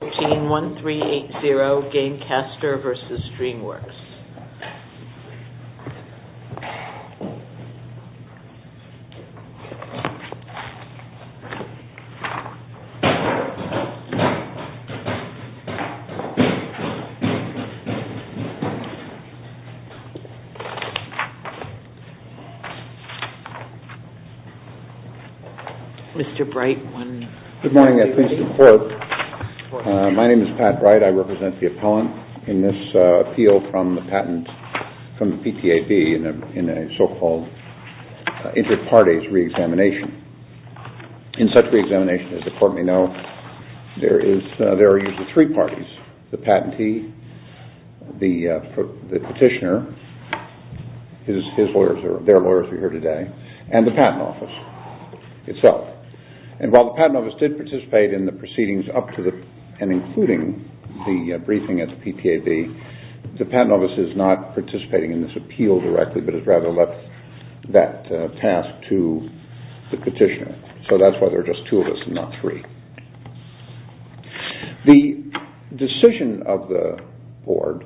1380, Gamecaster v. Dreamworks. Mr. Bright. Good morning. My name is Pat Bright. I represent the appellant in this appeal from the patent from the PTAB in a so-called inter-parties re-examination. In such re-examination, as the court may know, there are usually three parties. The patentee, the petitioner, their lawyers are here today, and the patent office itself. And while the patent office did participate in the proceedings up to and including the briefing at the PTAB, the patent office is not participating in this appeal directly, but has rather left that task to the petitioner. So that's why there are just two of us and not three. The decision of the board,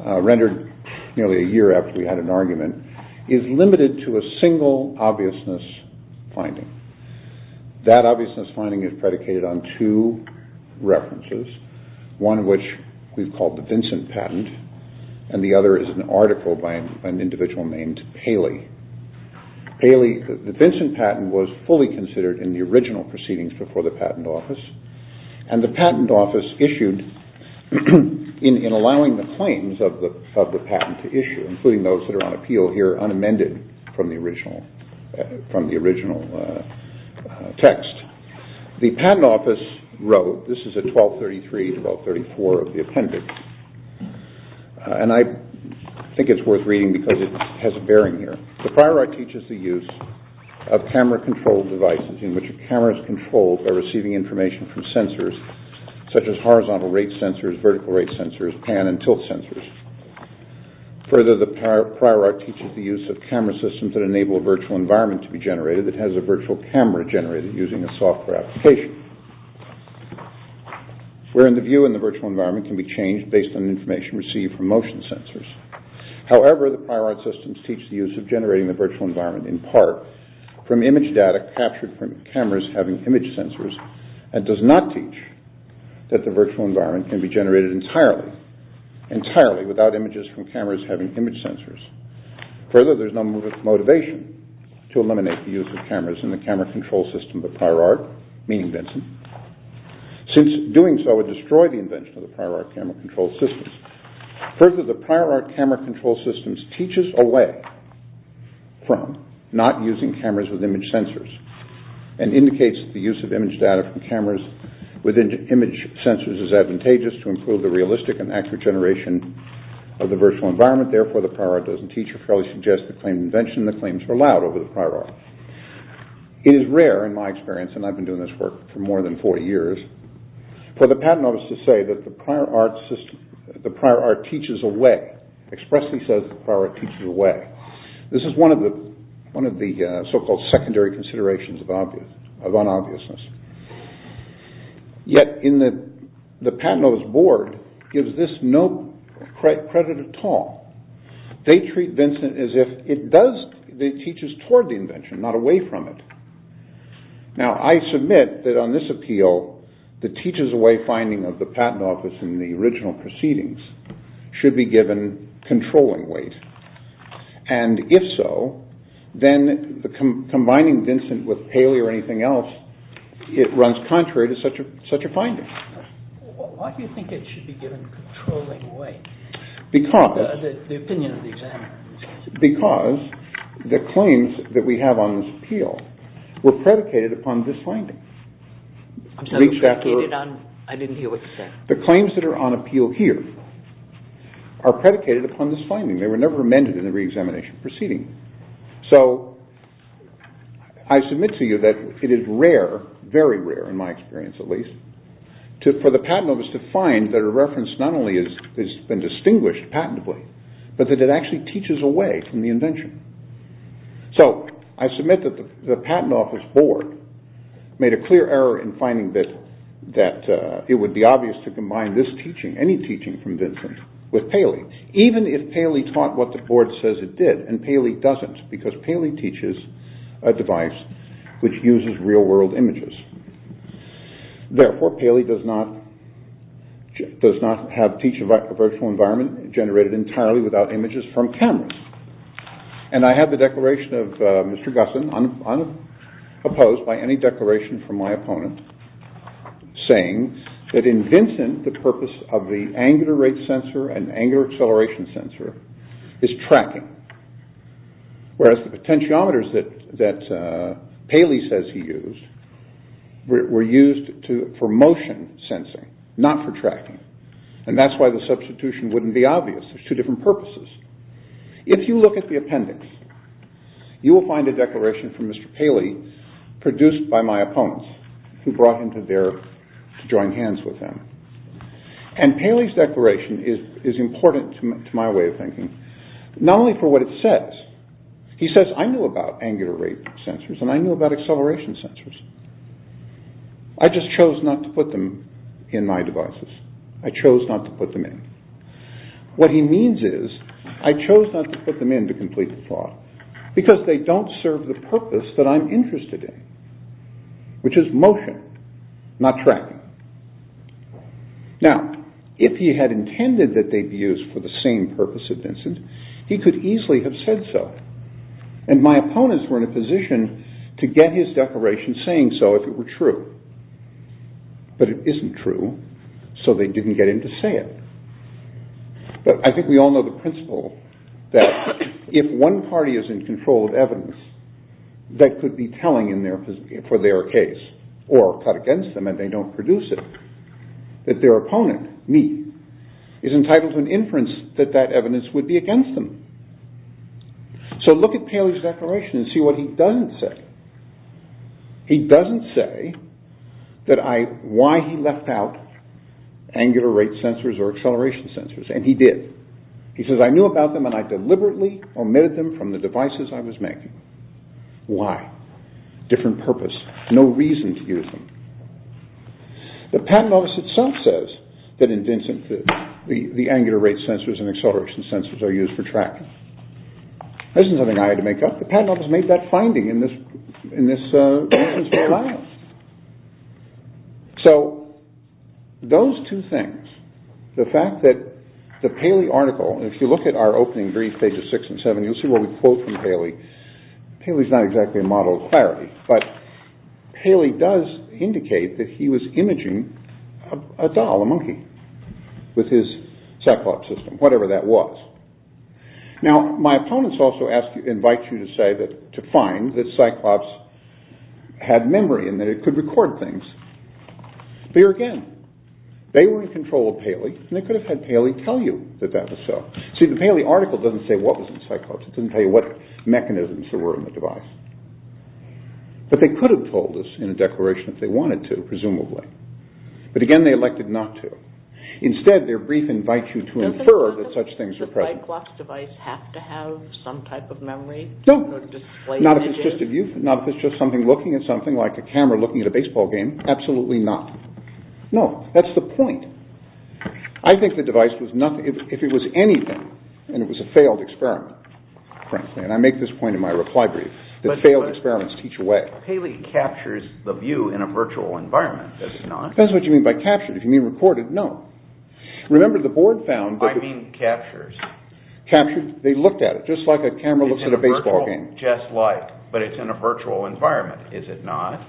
rendered nearly a year after we had an argument, is limited to a single obviousness finding. That obviousness finding is predicated on two references, one of which we've called the Vincent patent, and the other is an article by an individual named Paley. The Vincent patent was fully considered in the original proceedings before the patent office, and the patent office issued in allowing the claims of the patent to issue, including those that are on appeal here unamended from the original text. The patent office wrote, this is at 1233-1234 of the appendix, and I think it's worth reading because it has a bearing here. The prior art teaches the use of camera-controlled devices in which a camera is controlled by receiving information from sensors, such as horizontal rate sensors, vertical rate sensors, pan and tilt sensors. Further, the prior art teaches the use of camera systems that enable a virtual environment to be generated that has a virtual camera generated using a software application, wherein the view in the virtual environment can be changed based on information received from motion sensors. However, the prior art systems teach the use of generating the virtual environment, in part, from image data captured from cameras having image sensors, and does not teach that the virtual environment can be generated entirely, entirely without images from cameras having image sensors. Further, there is no motivation to eliminate the use of cameras in the camera-controlled system of the prior art, meaning Vincent, since doing so would destroy the invention of the prior art camera-controlled systems. Further, the prior art camera-controlled systems teaches a way from not using cameras with image sensors and indicates that the use of image data from cameras with image sensors is advantageous to improve the realistic and accurate generation of the virtual environment. Therefore, the prior art doesn't teach or fairly suggest the claimed invention. The claims were loud over the prior art. It is rare, in my experience, and I've been doing this work for more than 40 years, for the patent office to say that the prior art teaches a way, expressly says the prior art teaches a way. This is one of the so-called secondary considerations of unobviousness. Yet, the patent office board gives this no credit at all. They treat Vincent as if it teaches toward the invention, not away from it. Now, I submit that on this appeal, the teaches-a-way finding of the patent office in the original proceedings should be given controlling weight. And if so, then combining Vincent with Paley or anything else, it runs contrary to such a finding. Why do you think it should be given controlling weight? The opinion of the examiner. Because the claims that we have on this appeal were predicated upon this finding. I didn't hear what you said. The claims that are on appeal here are predicated upon this finding. They were never amended in the re-examination proceeding. So, I submit to you that it is rare, very rare in my experience at least, for the patent office to find that a reference not only has been distinguished patently, but that it actually teaches away from the invention. So, I submit that the patent office board made a clear error in finding that it would be obvious to combine this teaching, any teaching from Vincent, with Paley. Even if Paley taught what the board says it did, and Paley doesn't, because Paley teaches a device which uses real-world images. Therefore, Paley does not have a virtual environment generated entirely without images from cameras. And I have the declaration of Mr. Gusson, unopposed by any declaration from my opponent, saying that in Vincent, the purpose of the angular rate sensor and angular acceleration sensor is tracking. Whereas, the potentiometers that Paley says he used were used for motion sensing, not for tracking. And that's why the substitution wouldn't be obvious. There's two different purposes. If you look at the appendix, you will find a declaration from Mr. Paley, produced by my opponents, who brought him to join hands with him. And Paley's declaration is important to my way of thinking, not only for what it says. He says, I know about angular rate sensors, and I know about acceleration sensors. I just chose not to put them in my devices. I chose not to put them in. What he means is, I chose not to put them in to complete the plot, because they don't serve the purpose that I'm interested in, which is motion, not tracking. Now, if he had intended that they be used for the same purpose as Vincent, he could easily have said so. And my opponents were in a position to get his declaration saying so if it were true. But it isn't true, so they didn't get him to say it. But I think we all know the principle that if one party is in control of evidence, that could be telling for their case, or cut against them and they don't produce it, that their opponent, me, is entitled to an inference that that evidence would be against them. So look at Paley's declaration and see what he doesn't say. He doesn't say why he left out angular rate sensors or acceleration sensors. And he did. He says, I knew about them and I deliberately omitted them from the devices I was making. Why? Different purpose. No reason to use them. The patent office itself says that in Vincent the angular rate sensors and acceleration sensors are used for tracking. This isn't something I had to make up. The patent office made that finding in this. So those two things, the fact that the Paley article, if you look at our opening brief, pages six and seven, you'll see what we quote from Paley. Paley's not exactly a model of clarity, but Paley does indicate that he was imaging a doll, a monkey with his cyclops system, whatever that was. Now, my opponents also ask you, invite you to say that, to find that cyclops had memory and that it could record things. But here again, they were in control of Paley and they could have had Paley tell you that that was so. See, the Paley article doesn't say what was in cyclops. It doesn't tell you what mechanisms there were in the device. But they could have told us in a declaration if they wanted to, presumably. But again, they elected not to. Instead, their brief invites you to infer that such things are present. Does the cyclops device have to have some type of memory? No, not if it's just a view, not if it's just something looking at something like a camera looking at a baseball game. Absolutely not. No, that's the point. I think the device was nothing, if it was anything, and it was a failed experiment, frankly, and I make this point in my reply brief, that failed experiments teach away. But Paley captures the view in a virtual environment, does he not? That's what you mean by captured. If you mean recorded, no. Remember the board found that... I mean captures. Captured, they looked at it, just like a camera looks at a baseball game. Just like, but it's in a virtual environment, is it not?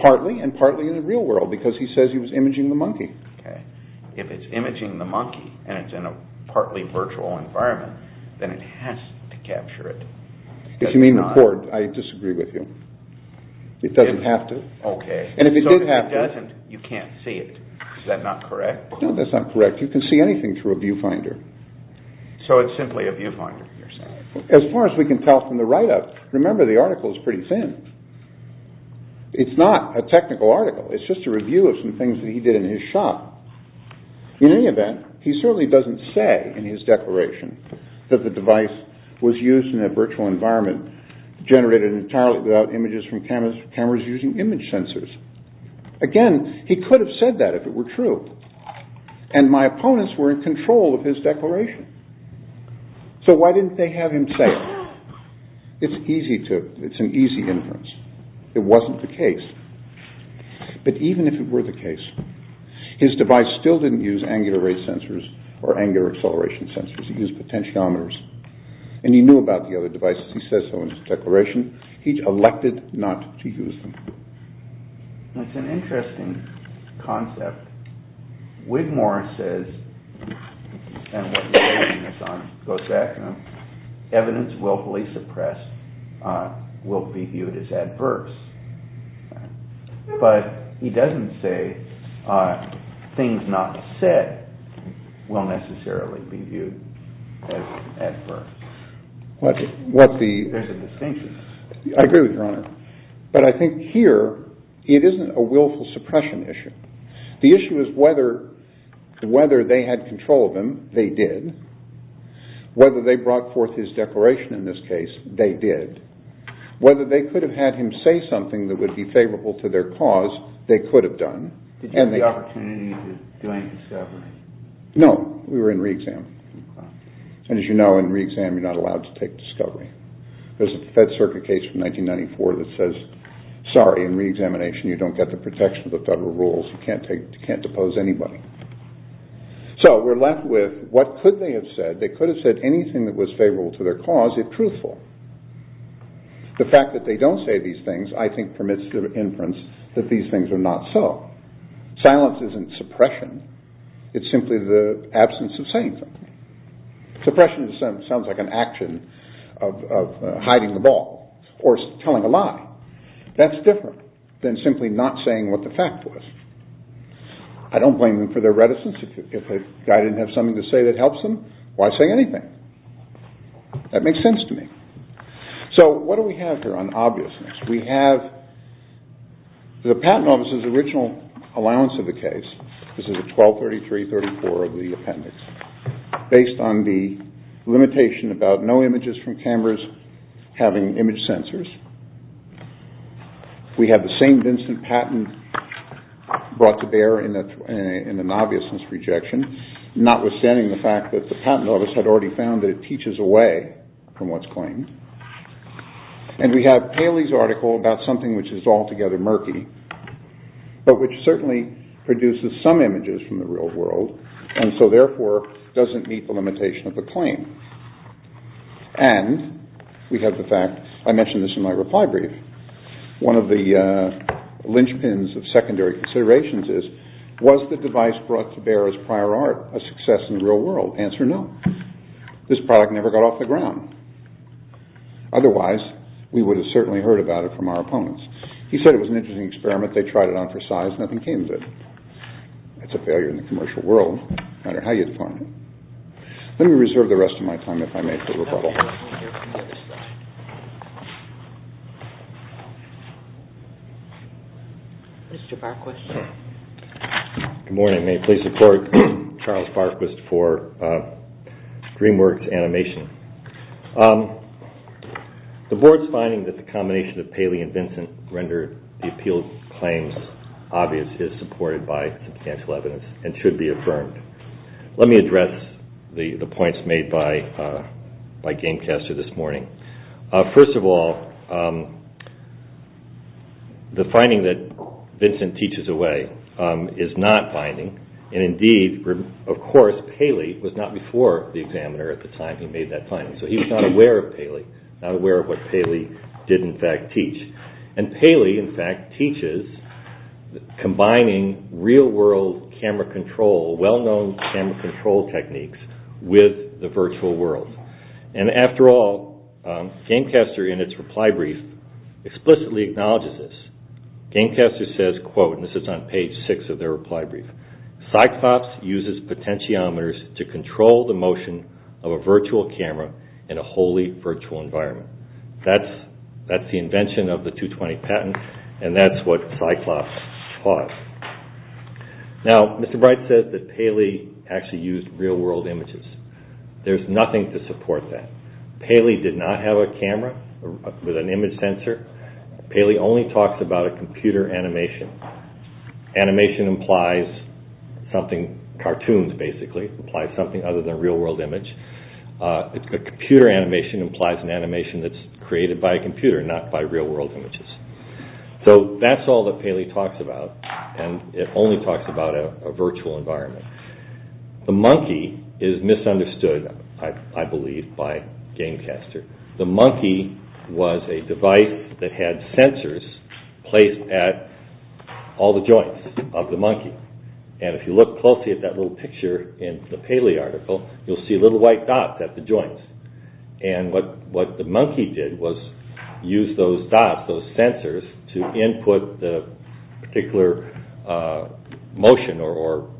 Partly, and partly in the real world, because he says he was imaging the monkey. If it's imaging the monkey and it's in a partly virtual environment, then it has to capture it. If you mean record, I disagree with you. It doesn't have to. Okay, so if it doesn't, you can't see it. Is that not correct? No, that's not correct. You can see anything through a viewfinder. So it's simply a viewfinder. As far as we can tell from the write-up, remember the article is pretty thin. It's not a technical article. It's just a review of some things that he did in his shop. In any event, he certainly doesn't say in his declaration that the device was used in a virtual environment, generated entirely without images from cameras using image sensors. Again, he could have said that if it were true. And my opponents were in control of his declaration. So why didn't they have him say it? It's an easy inference. It wasn't the case. But even if it were the case, his device still didn't use angular rate sensors or angular acceleration sensors. It used potentiometers. And he knew about the other devices. He said so in his declaration. He elected not to use them. That's an interesting concept. Wigmore says, and what he's saying goes back to him, evidence willfully suppressed will be viewed as adverse. But he doesn't say things not said will necessarily be viewed as adverse. What the I agree with your honor. But I think here it isn't a willful suppression issue. The issue is whether whether they had control of him. They did. Whether they brought forth his declaration in this case, they did. Whether they could have had him say something that would be favorable to their cause. They could have done. And the opportunity to do a discovery. No, we were in reexamination. And as you know, in reexamination, you're not allowed to take discovery. There's a Fed Circuit case from 1994 that says, sorry, in reexamination, you don't get the protection of the federal rules. You can't take, you can't depose anybody. So we're left with what could they have said? They could have said anything that was favorable to their cause, if truthful. The fact that they don't say these things, I think, permits the inference that these things are not so. Silence isn't suppression. It's simply the absence of saying something. Suppression sounds like an action of hiding the ball or telling a lie. That's different than simply not saying what the fact was. I don't blame them for their reticence. If a guy didn't have something to say that helps them, why say anything? That makes sense to me. So what do we have here on obviousness? We have the patent office's original allowance of the case. This is a 123334 of the appendix. Based on the limitation about no images from cameras having image sensors. We have the same Vincent Patton brought to bear in an obviousness rejection. Notwithstanding the fact that the patent office had already found that it teaches away from what's claimed. And we have Haley's article about something which is altogether murky. But which certainly produces some images from the real world. And so therefore doesn't meet the limitation of the claim. And we have the fact I mentioned this in my reply brief. One of the linchpins of secondary considerations is was the device brought to bear as prior art a success in the real world? Answer no. This product never got off the ground. Otherwise we would have certainly heard about it from our opponents. He said it was an interesting experiment. They tried it on for size. Nothing came of it. It's a failure in the commercial world. No matter how you define it. Let me reserve the rest of my time if I may for rebuttal. Good morning. May please support Charles Barquist for DreamWorks animation. The board's finding that the combination of Haley and Vincent rendered the appealed claims obvious is supported by substantial evidence and should be affirmed. Let me address the points made by Gamecaster this morning. First of all, the finding that Vincent teaches away is not binding. And indeed, of course, Haley was not before the examiner at the time he made that finding. So he was not aware of Haley. Not aware of what Haley did in fact teach. And Haley in fact teaches combining real world camera control, well known camera control techniques with the virtual world. And after all, Gamecaster in its reply brief explicitly acknowledges this. Gamecaster says, quote, and this is on page six of their reply brief, Cyclops uses potentiometers to control the motion of a virtual camera in a wholly virtual environment. That's the invention of the 220 patent and that's what Cyclops taught. Now, Mr. Bright says that Haley actually used real world images. There's nothing to support that. Haley did not have a camera with an image sensor. Haley only talks about a computer animation. Animation implies something, cartoons basically, implies something other than real world image. A computer animation implies an animation that's created by a computer, not by real world images. So that's all that Haley talks about and it only talks about a virtual environment. The monkey is misunderstood, I believe, by Gamecaster. The monkey was a device that had sensors placed at all the joints of the monkey. And if you look closely at that little picture in the Haley article, you'll see little white dots at the joints. And what the monkey did was use those dots, those sensors, to input the particular motion or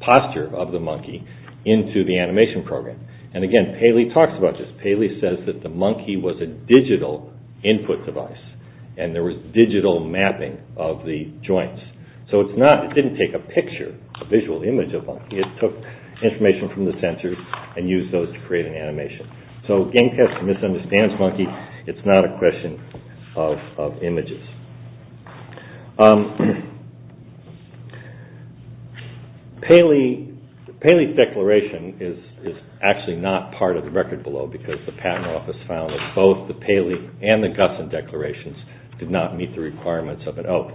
posture of the monkey into the animation program. And again, Haley talks about this. Haley says that the monkey was a digital input device and there was digital mapping of the joints. So it didn't take a picture, a visual image of the monkey. It took information from the sensors and used those to create an animation. So Gamecaster misunderstands monkey. It's not a question of images. Haley's declaration is actually not part of the record below because the Patent Office found that both the Haley and the Gusson declarations did not meet the requirements of an oath.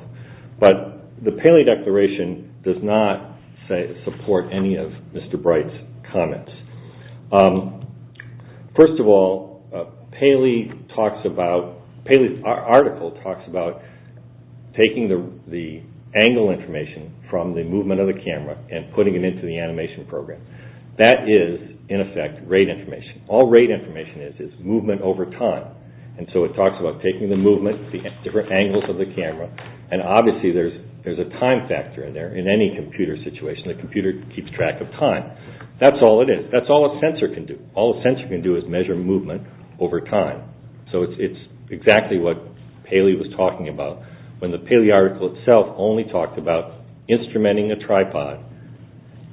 But the Haley declaration does not support any of Mr. Bright's comments. First of all, Haley's article talks about taking the angle information from the movement of the camera and putting it into the animation program. That is, in effect, rate information. All rate information is is movement over time. And so it talks about taking the movement, the different angles of the camera, and obviously there's a time factor in there in any computer situation. The computer keeps track of time. That's all it is. That's all a sensor can do. All a sensor can do is measure movement over time. So it's exactly what Haley was talking about when the Haley article itself only talked about instrumenting a tripod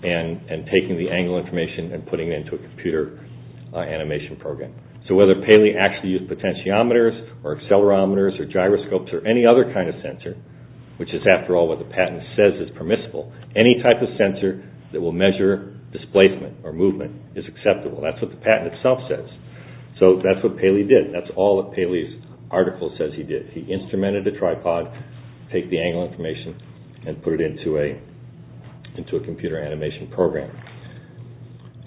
and taking the angle information and putting it into a computer animation program. So whether Haley actually used potentiometers or accelerometers or gyroscopes or any other kind of sensor, which is, after all, what the patent says is permissible, any type of sensor that will measure displacement or movement is acceptable. That's what the patent itself says. So that's what Haley did. That's all that Haley's article says he did. He instrumented a tripod, take the angle information, and put it into a computer animation program.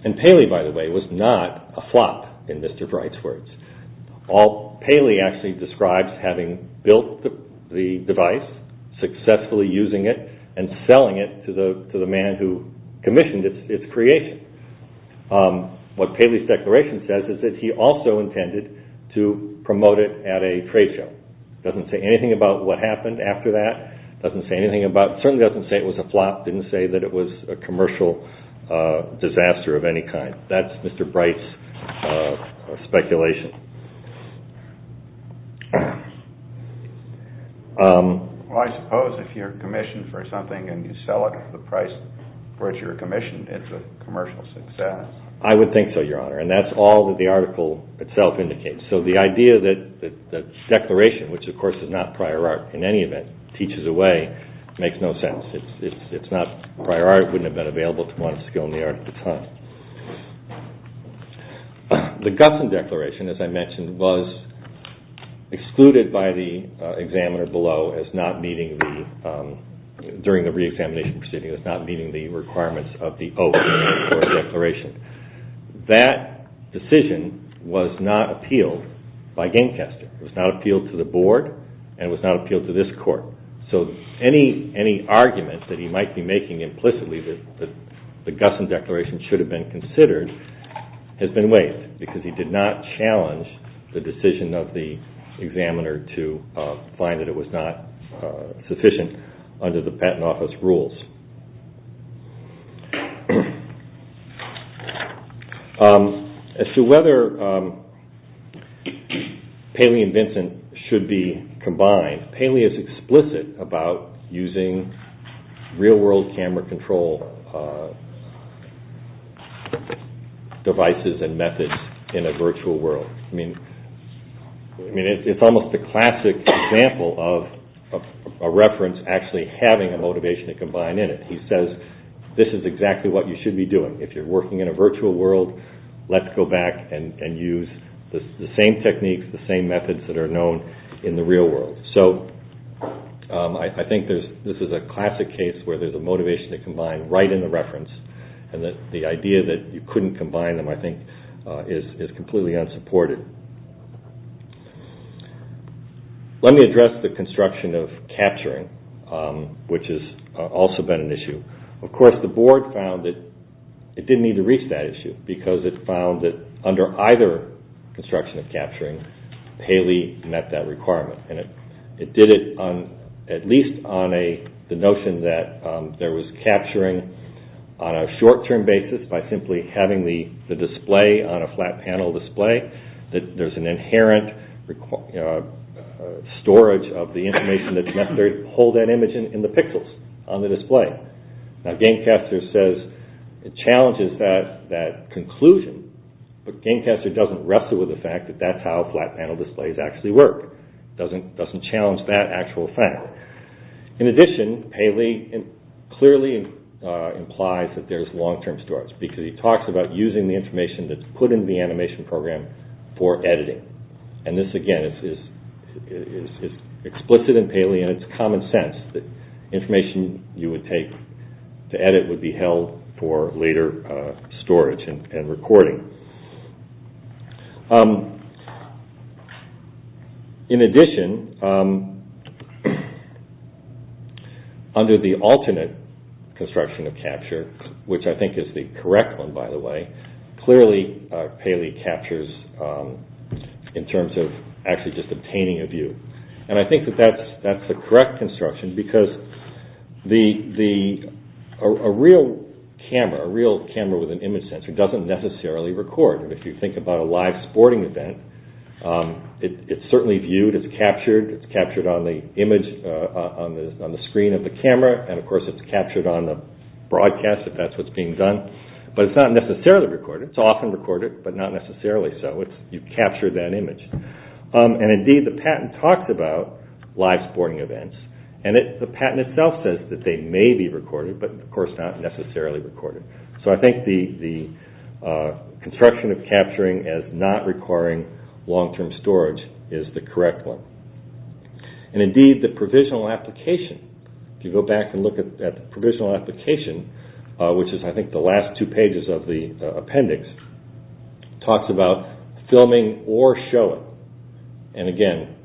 And Haley, by the way, was not a flop, in Mr. Bright's words. All Haley actually describes having built the device, successfully using it, and selling it to the man who commissioned its creation. What Haley's declaration says is that he also intended to promote it at a trade show. Doesn't say anything about what happened after that. Doesn't say anything about – certainly doesn't say it was a flop. Didn't say that it was a commercial disaster of any kind. That's Mr. Bright's speculation. Well, I suppose if you're commissioned for something and you sell it for the price for which you're commissioned, it's a commercial success. I would think so, Your Honor. And that's all that the article itself indicates. So the idea that the declaration, which, of course, is not prior art in any event, teaches away makes no sense. It's not prior art. It wouldn't have been available to one skill in the art at the time. The Gutson Declaration, as I mentioned, was excluded by the examiner below as not meeting the – during the reexamination proceeding as not meeting the requirements of the oath in the court declaration. That decision was not appealed by Gancaster. It was not appealed to the board, and it was not appealed to this court. So any argument that he might be making implicitly that the Gutson Declaration should have been considered has been waived because he did not challenge the decision of the examiner to find that it was not sufficient under the Patent Office rules. As to whether Paley and Vincent should be combined, Paley is explicit about using real-world camera control devices and methods in a virtual world. I mean, it's almost a classic example of a reference actually having a motivation to combine in it. He says, this is exactly what you should be doing. If you're working in a virtual world, let's go back and use the same techniques, the same methods that are known in the real world. So I think this is a classic case where there's a motivation to combine right in the reference, and the idea that you couldn't combine them, I think, is completely unsupported. Let me address the construction of capturing, which has also been an issue. Of course, the board found that it didn't need to reach that issue, because it found that under either construction of capturing, Paley met that requirement. And it did it at least on the notion that there was capturing on a short-term basis by simply having the display on a flat panel display. That there's an inherent storage of the information that's necessary to hold that image in the pixels on the display. Now, Gancaster says it challenges that conclusion, but Gancaster doesn't wrestle with the fact that that's how flat panel displays actually work. It doesn't challenge that actual fact. In addition, Paley clearly implies that there's long-term storage, because he talks about using the information that's put into the animation program for editing. And this, again, is explicit in Paley, and it's common sense that information you would take to edit would be held for later storage and recording. In addition, under the alternate construction of capture, which I think is the correct one, by the way, clearly Paley captures in terms of actually just obtaining a view. And I think that that's the correct construction, because a real camera with an image sensor doesn't necessarily record. If you think about a live sporting event, it's certainly viewed, it's captured, it's captured on the screen of the camera, and of course it's captured on the broadcast if that's what's being done, but it's not necessarily recorded. It's often recorded, but not necessarily so. You capture that image. And indeed, the patent talks about live sporting events, and the patent itself says that they may be recorded, but of course not necessarily recorded. So I think the construction of capturing as not requiring long-term storage is the correct one. And indeed, the provisional application, if you go back and look at the provisional application, which is I think the last two pages of the appendix, talks about filming or showing. And again,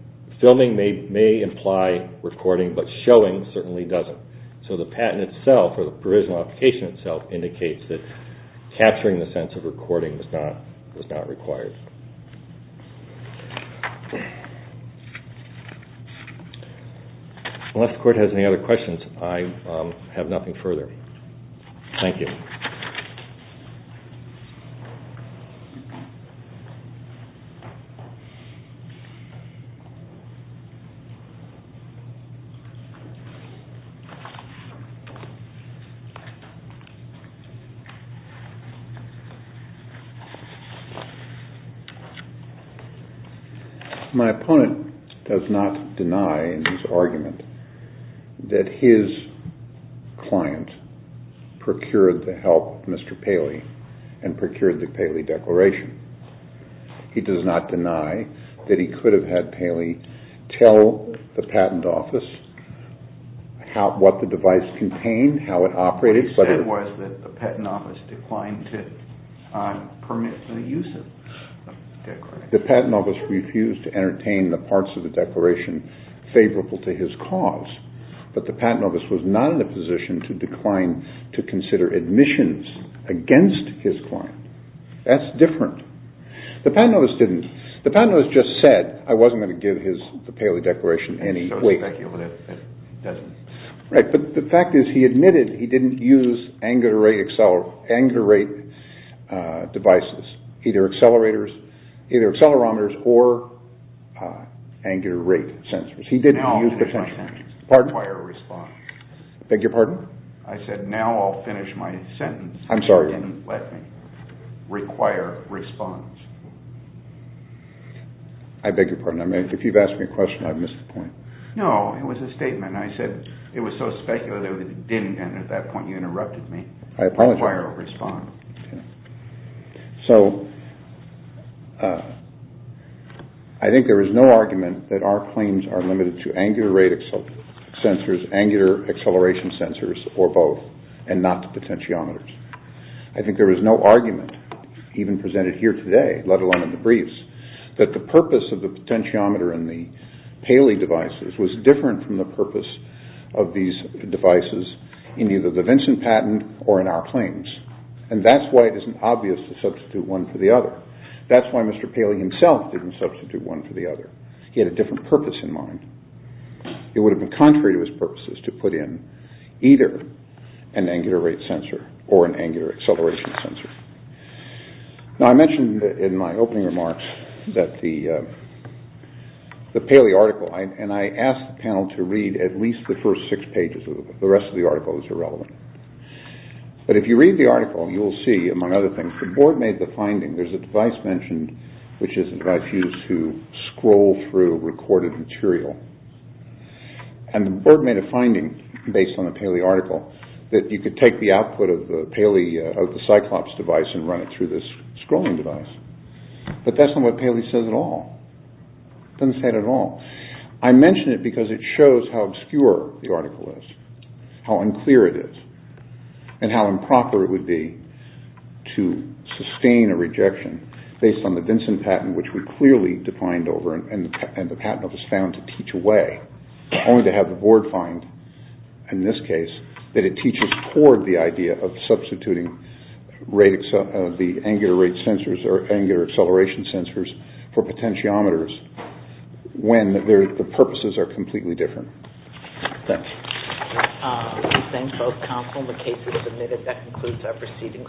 filming may imply recording, but showing certainly doesn't. So the patent itself, or the provisional application itself, indicates that capturing the sense of recording is not required. Unless the Court has any other questions, I have nothing further. Thank you. Thank you. My opponent does not deny in his argument that his client procured the help of Mr. Paley and procured the Paley Declaration. He does not deny that he could have had Paley tell the Patent Office what the device contained, how it operated. What he said was that the Patent Office declined to permit the use of the Declaration. The Patent Office refused to entertain the parts of the Declaration favorable to his cause, but the Patent Office was not in a position to decline to consider admissions against his client. That's different. The Patent Office didn't. The Patent Office just said, I wasn't going to give the Paley Declaration any weight. But the fact is he admitted he didn't use angular rate devices, either accelerometers or angular rate sensors. Now I'll finish my sentence. Require a response. I beg your pardon? I said now I'll finish my sentence. I'm sorry. He didn't let me. Require a response. I beg your pardon. If you've asked me a question, I've missed the point. No, it was a statement. I said it was so speculative it didn't, and at that point you interrupted me. I apologize. Require a response. So I think there is no argument that our claims are limited to angular rate sensors, angular acceleration sensors, or both, and not to potentiometers. I think there is no argument, even presented here today, let alone in the briefs, that the purpose of the potentiometer and the Paley devices was different from the purpose of these devices in either the Vincent patent or in our claims. And that's why it isn't obvious to substitute one for the other. That's why Mr. Paley himself didn't substitute one for the other. He had a different purpose in mind. It would have been contrary to his purposes to put in either an angular rate sensor or an angular acceleration sensor. Now I mentioned in my opening remarks that the Paley article, and I asked the panel to read at least the first six pages of the book. The rest of the article is irrelevant. But if you read the article, you will see, among other things, the board made the finding. There is a device mentioned, which is a device used to scroll through recorded material. And the board made a finding, based on the Paley article, that you could take the output of the Cyclops device and run it through this scrolling device. But that's not what Paley says at all. It doesn't say it at all. I mention it because it shows how obscure the article is, how unclear it is. And how improper it would be to sustain a rejection based on the Vinson patent, which we clearly defined over and the patent was found to teach away. Only to have the board find, in this case, that it teaches toward the idea of substituting the angular rate sensors or angular acceleration sensors for potentiometers Thank you. We thank both counsel. The case is submitted. That concludes our proceedings.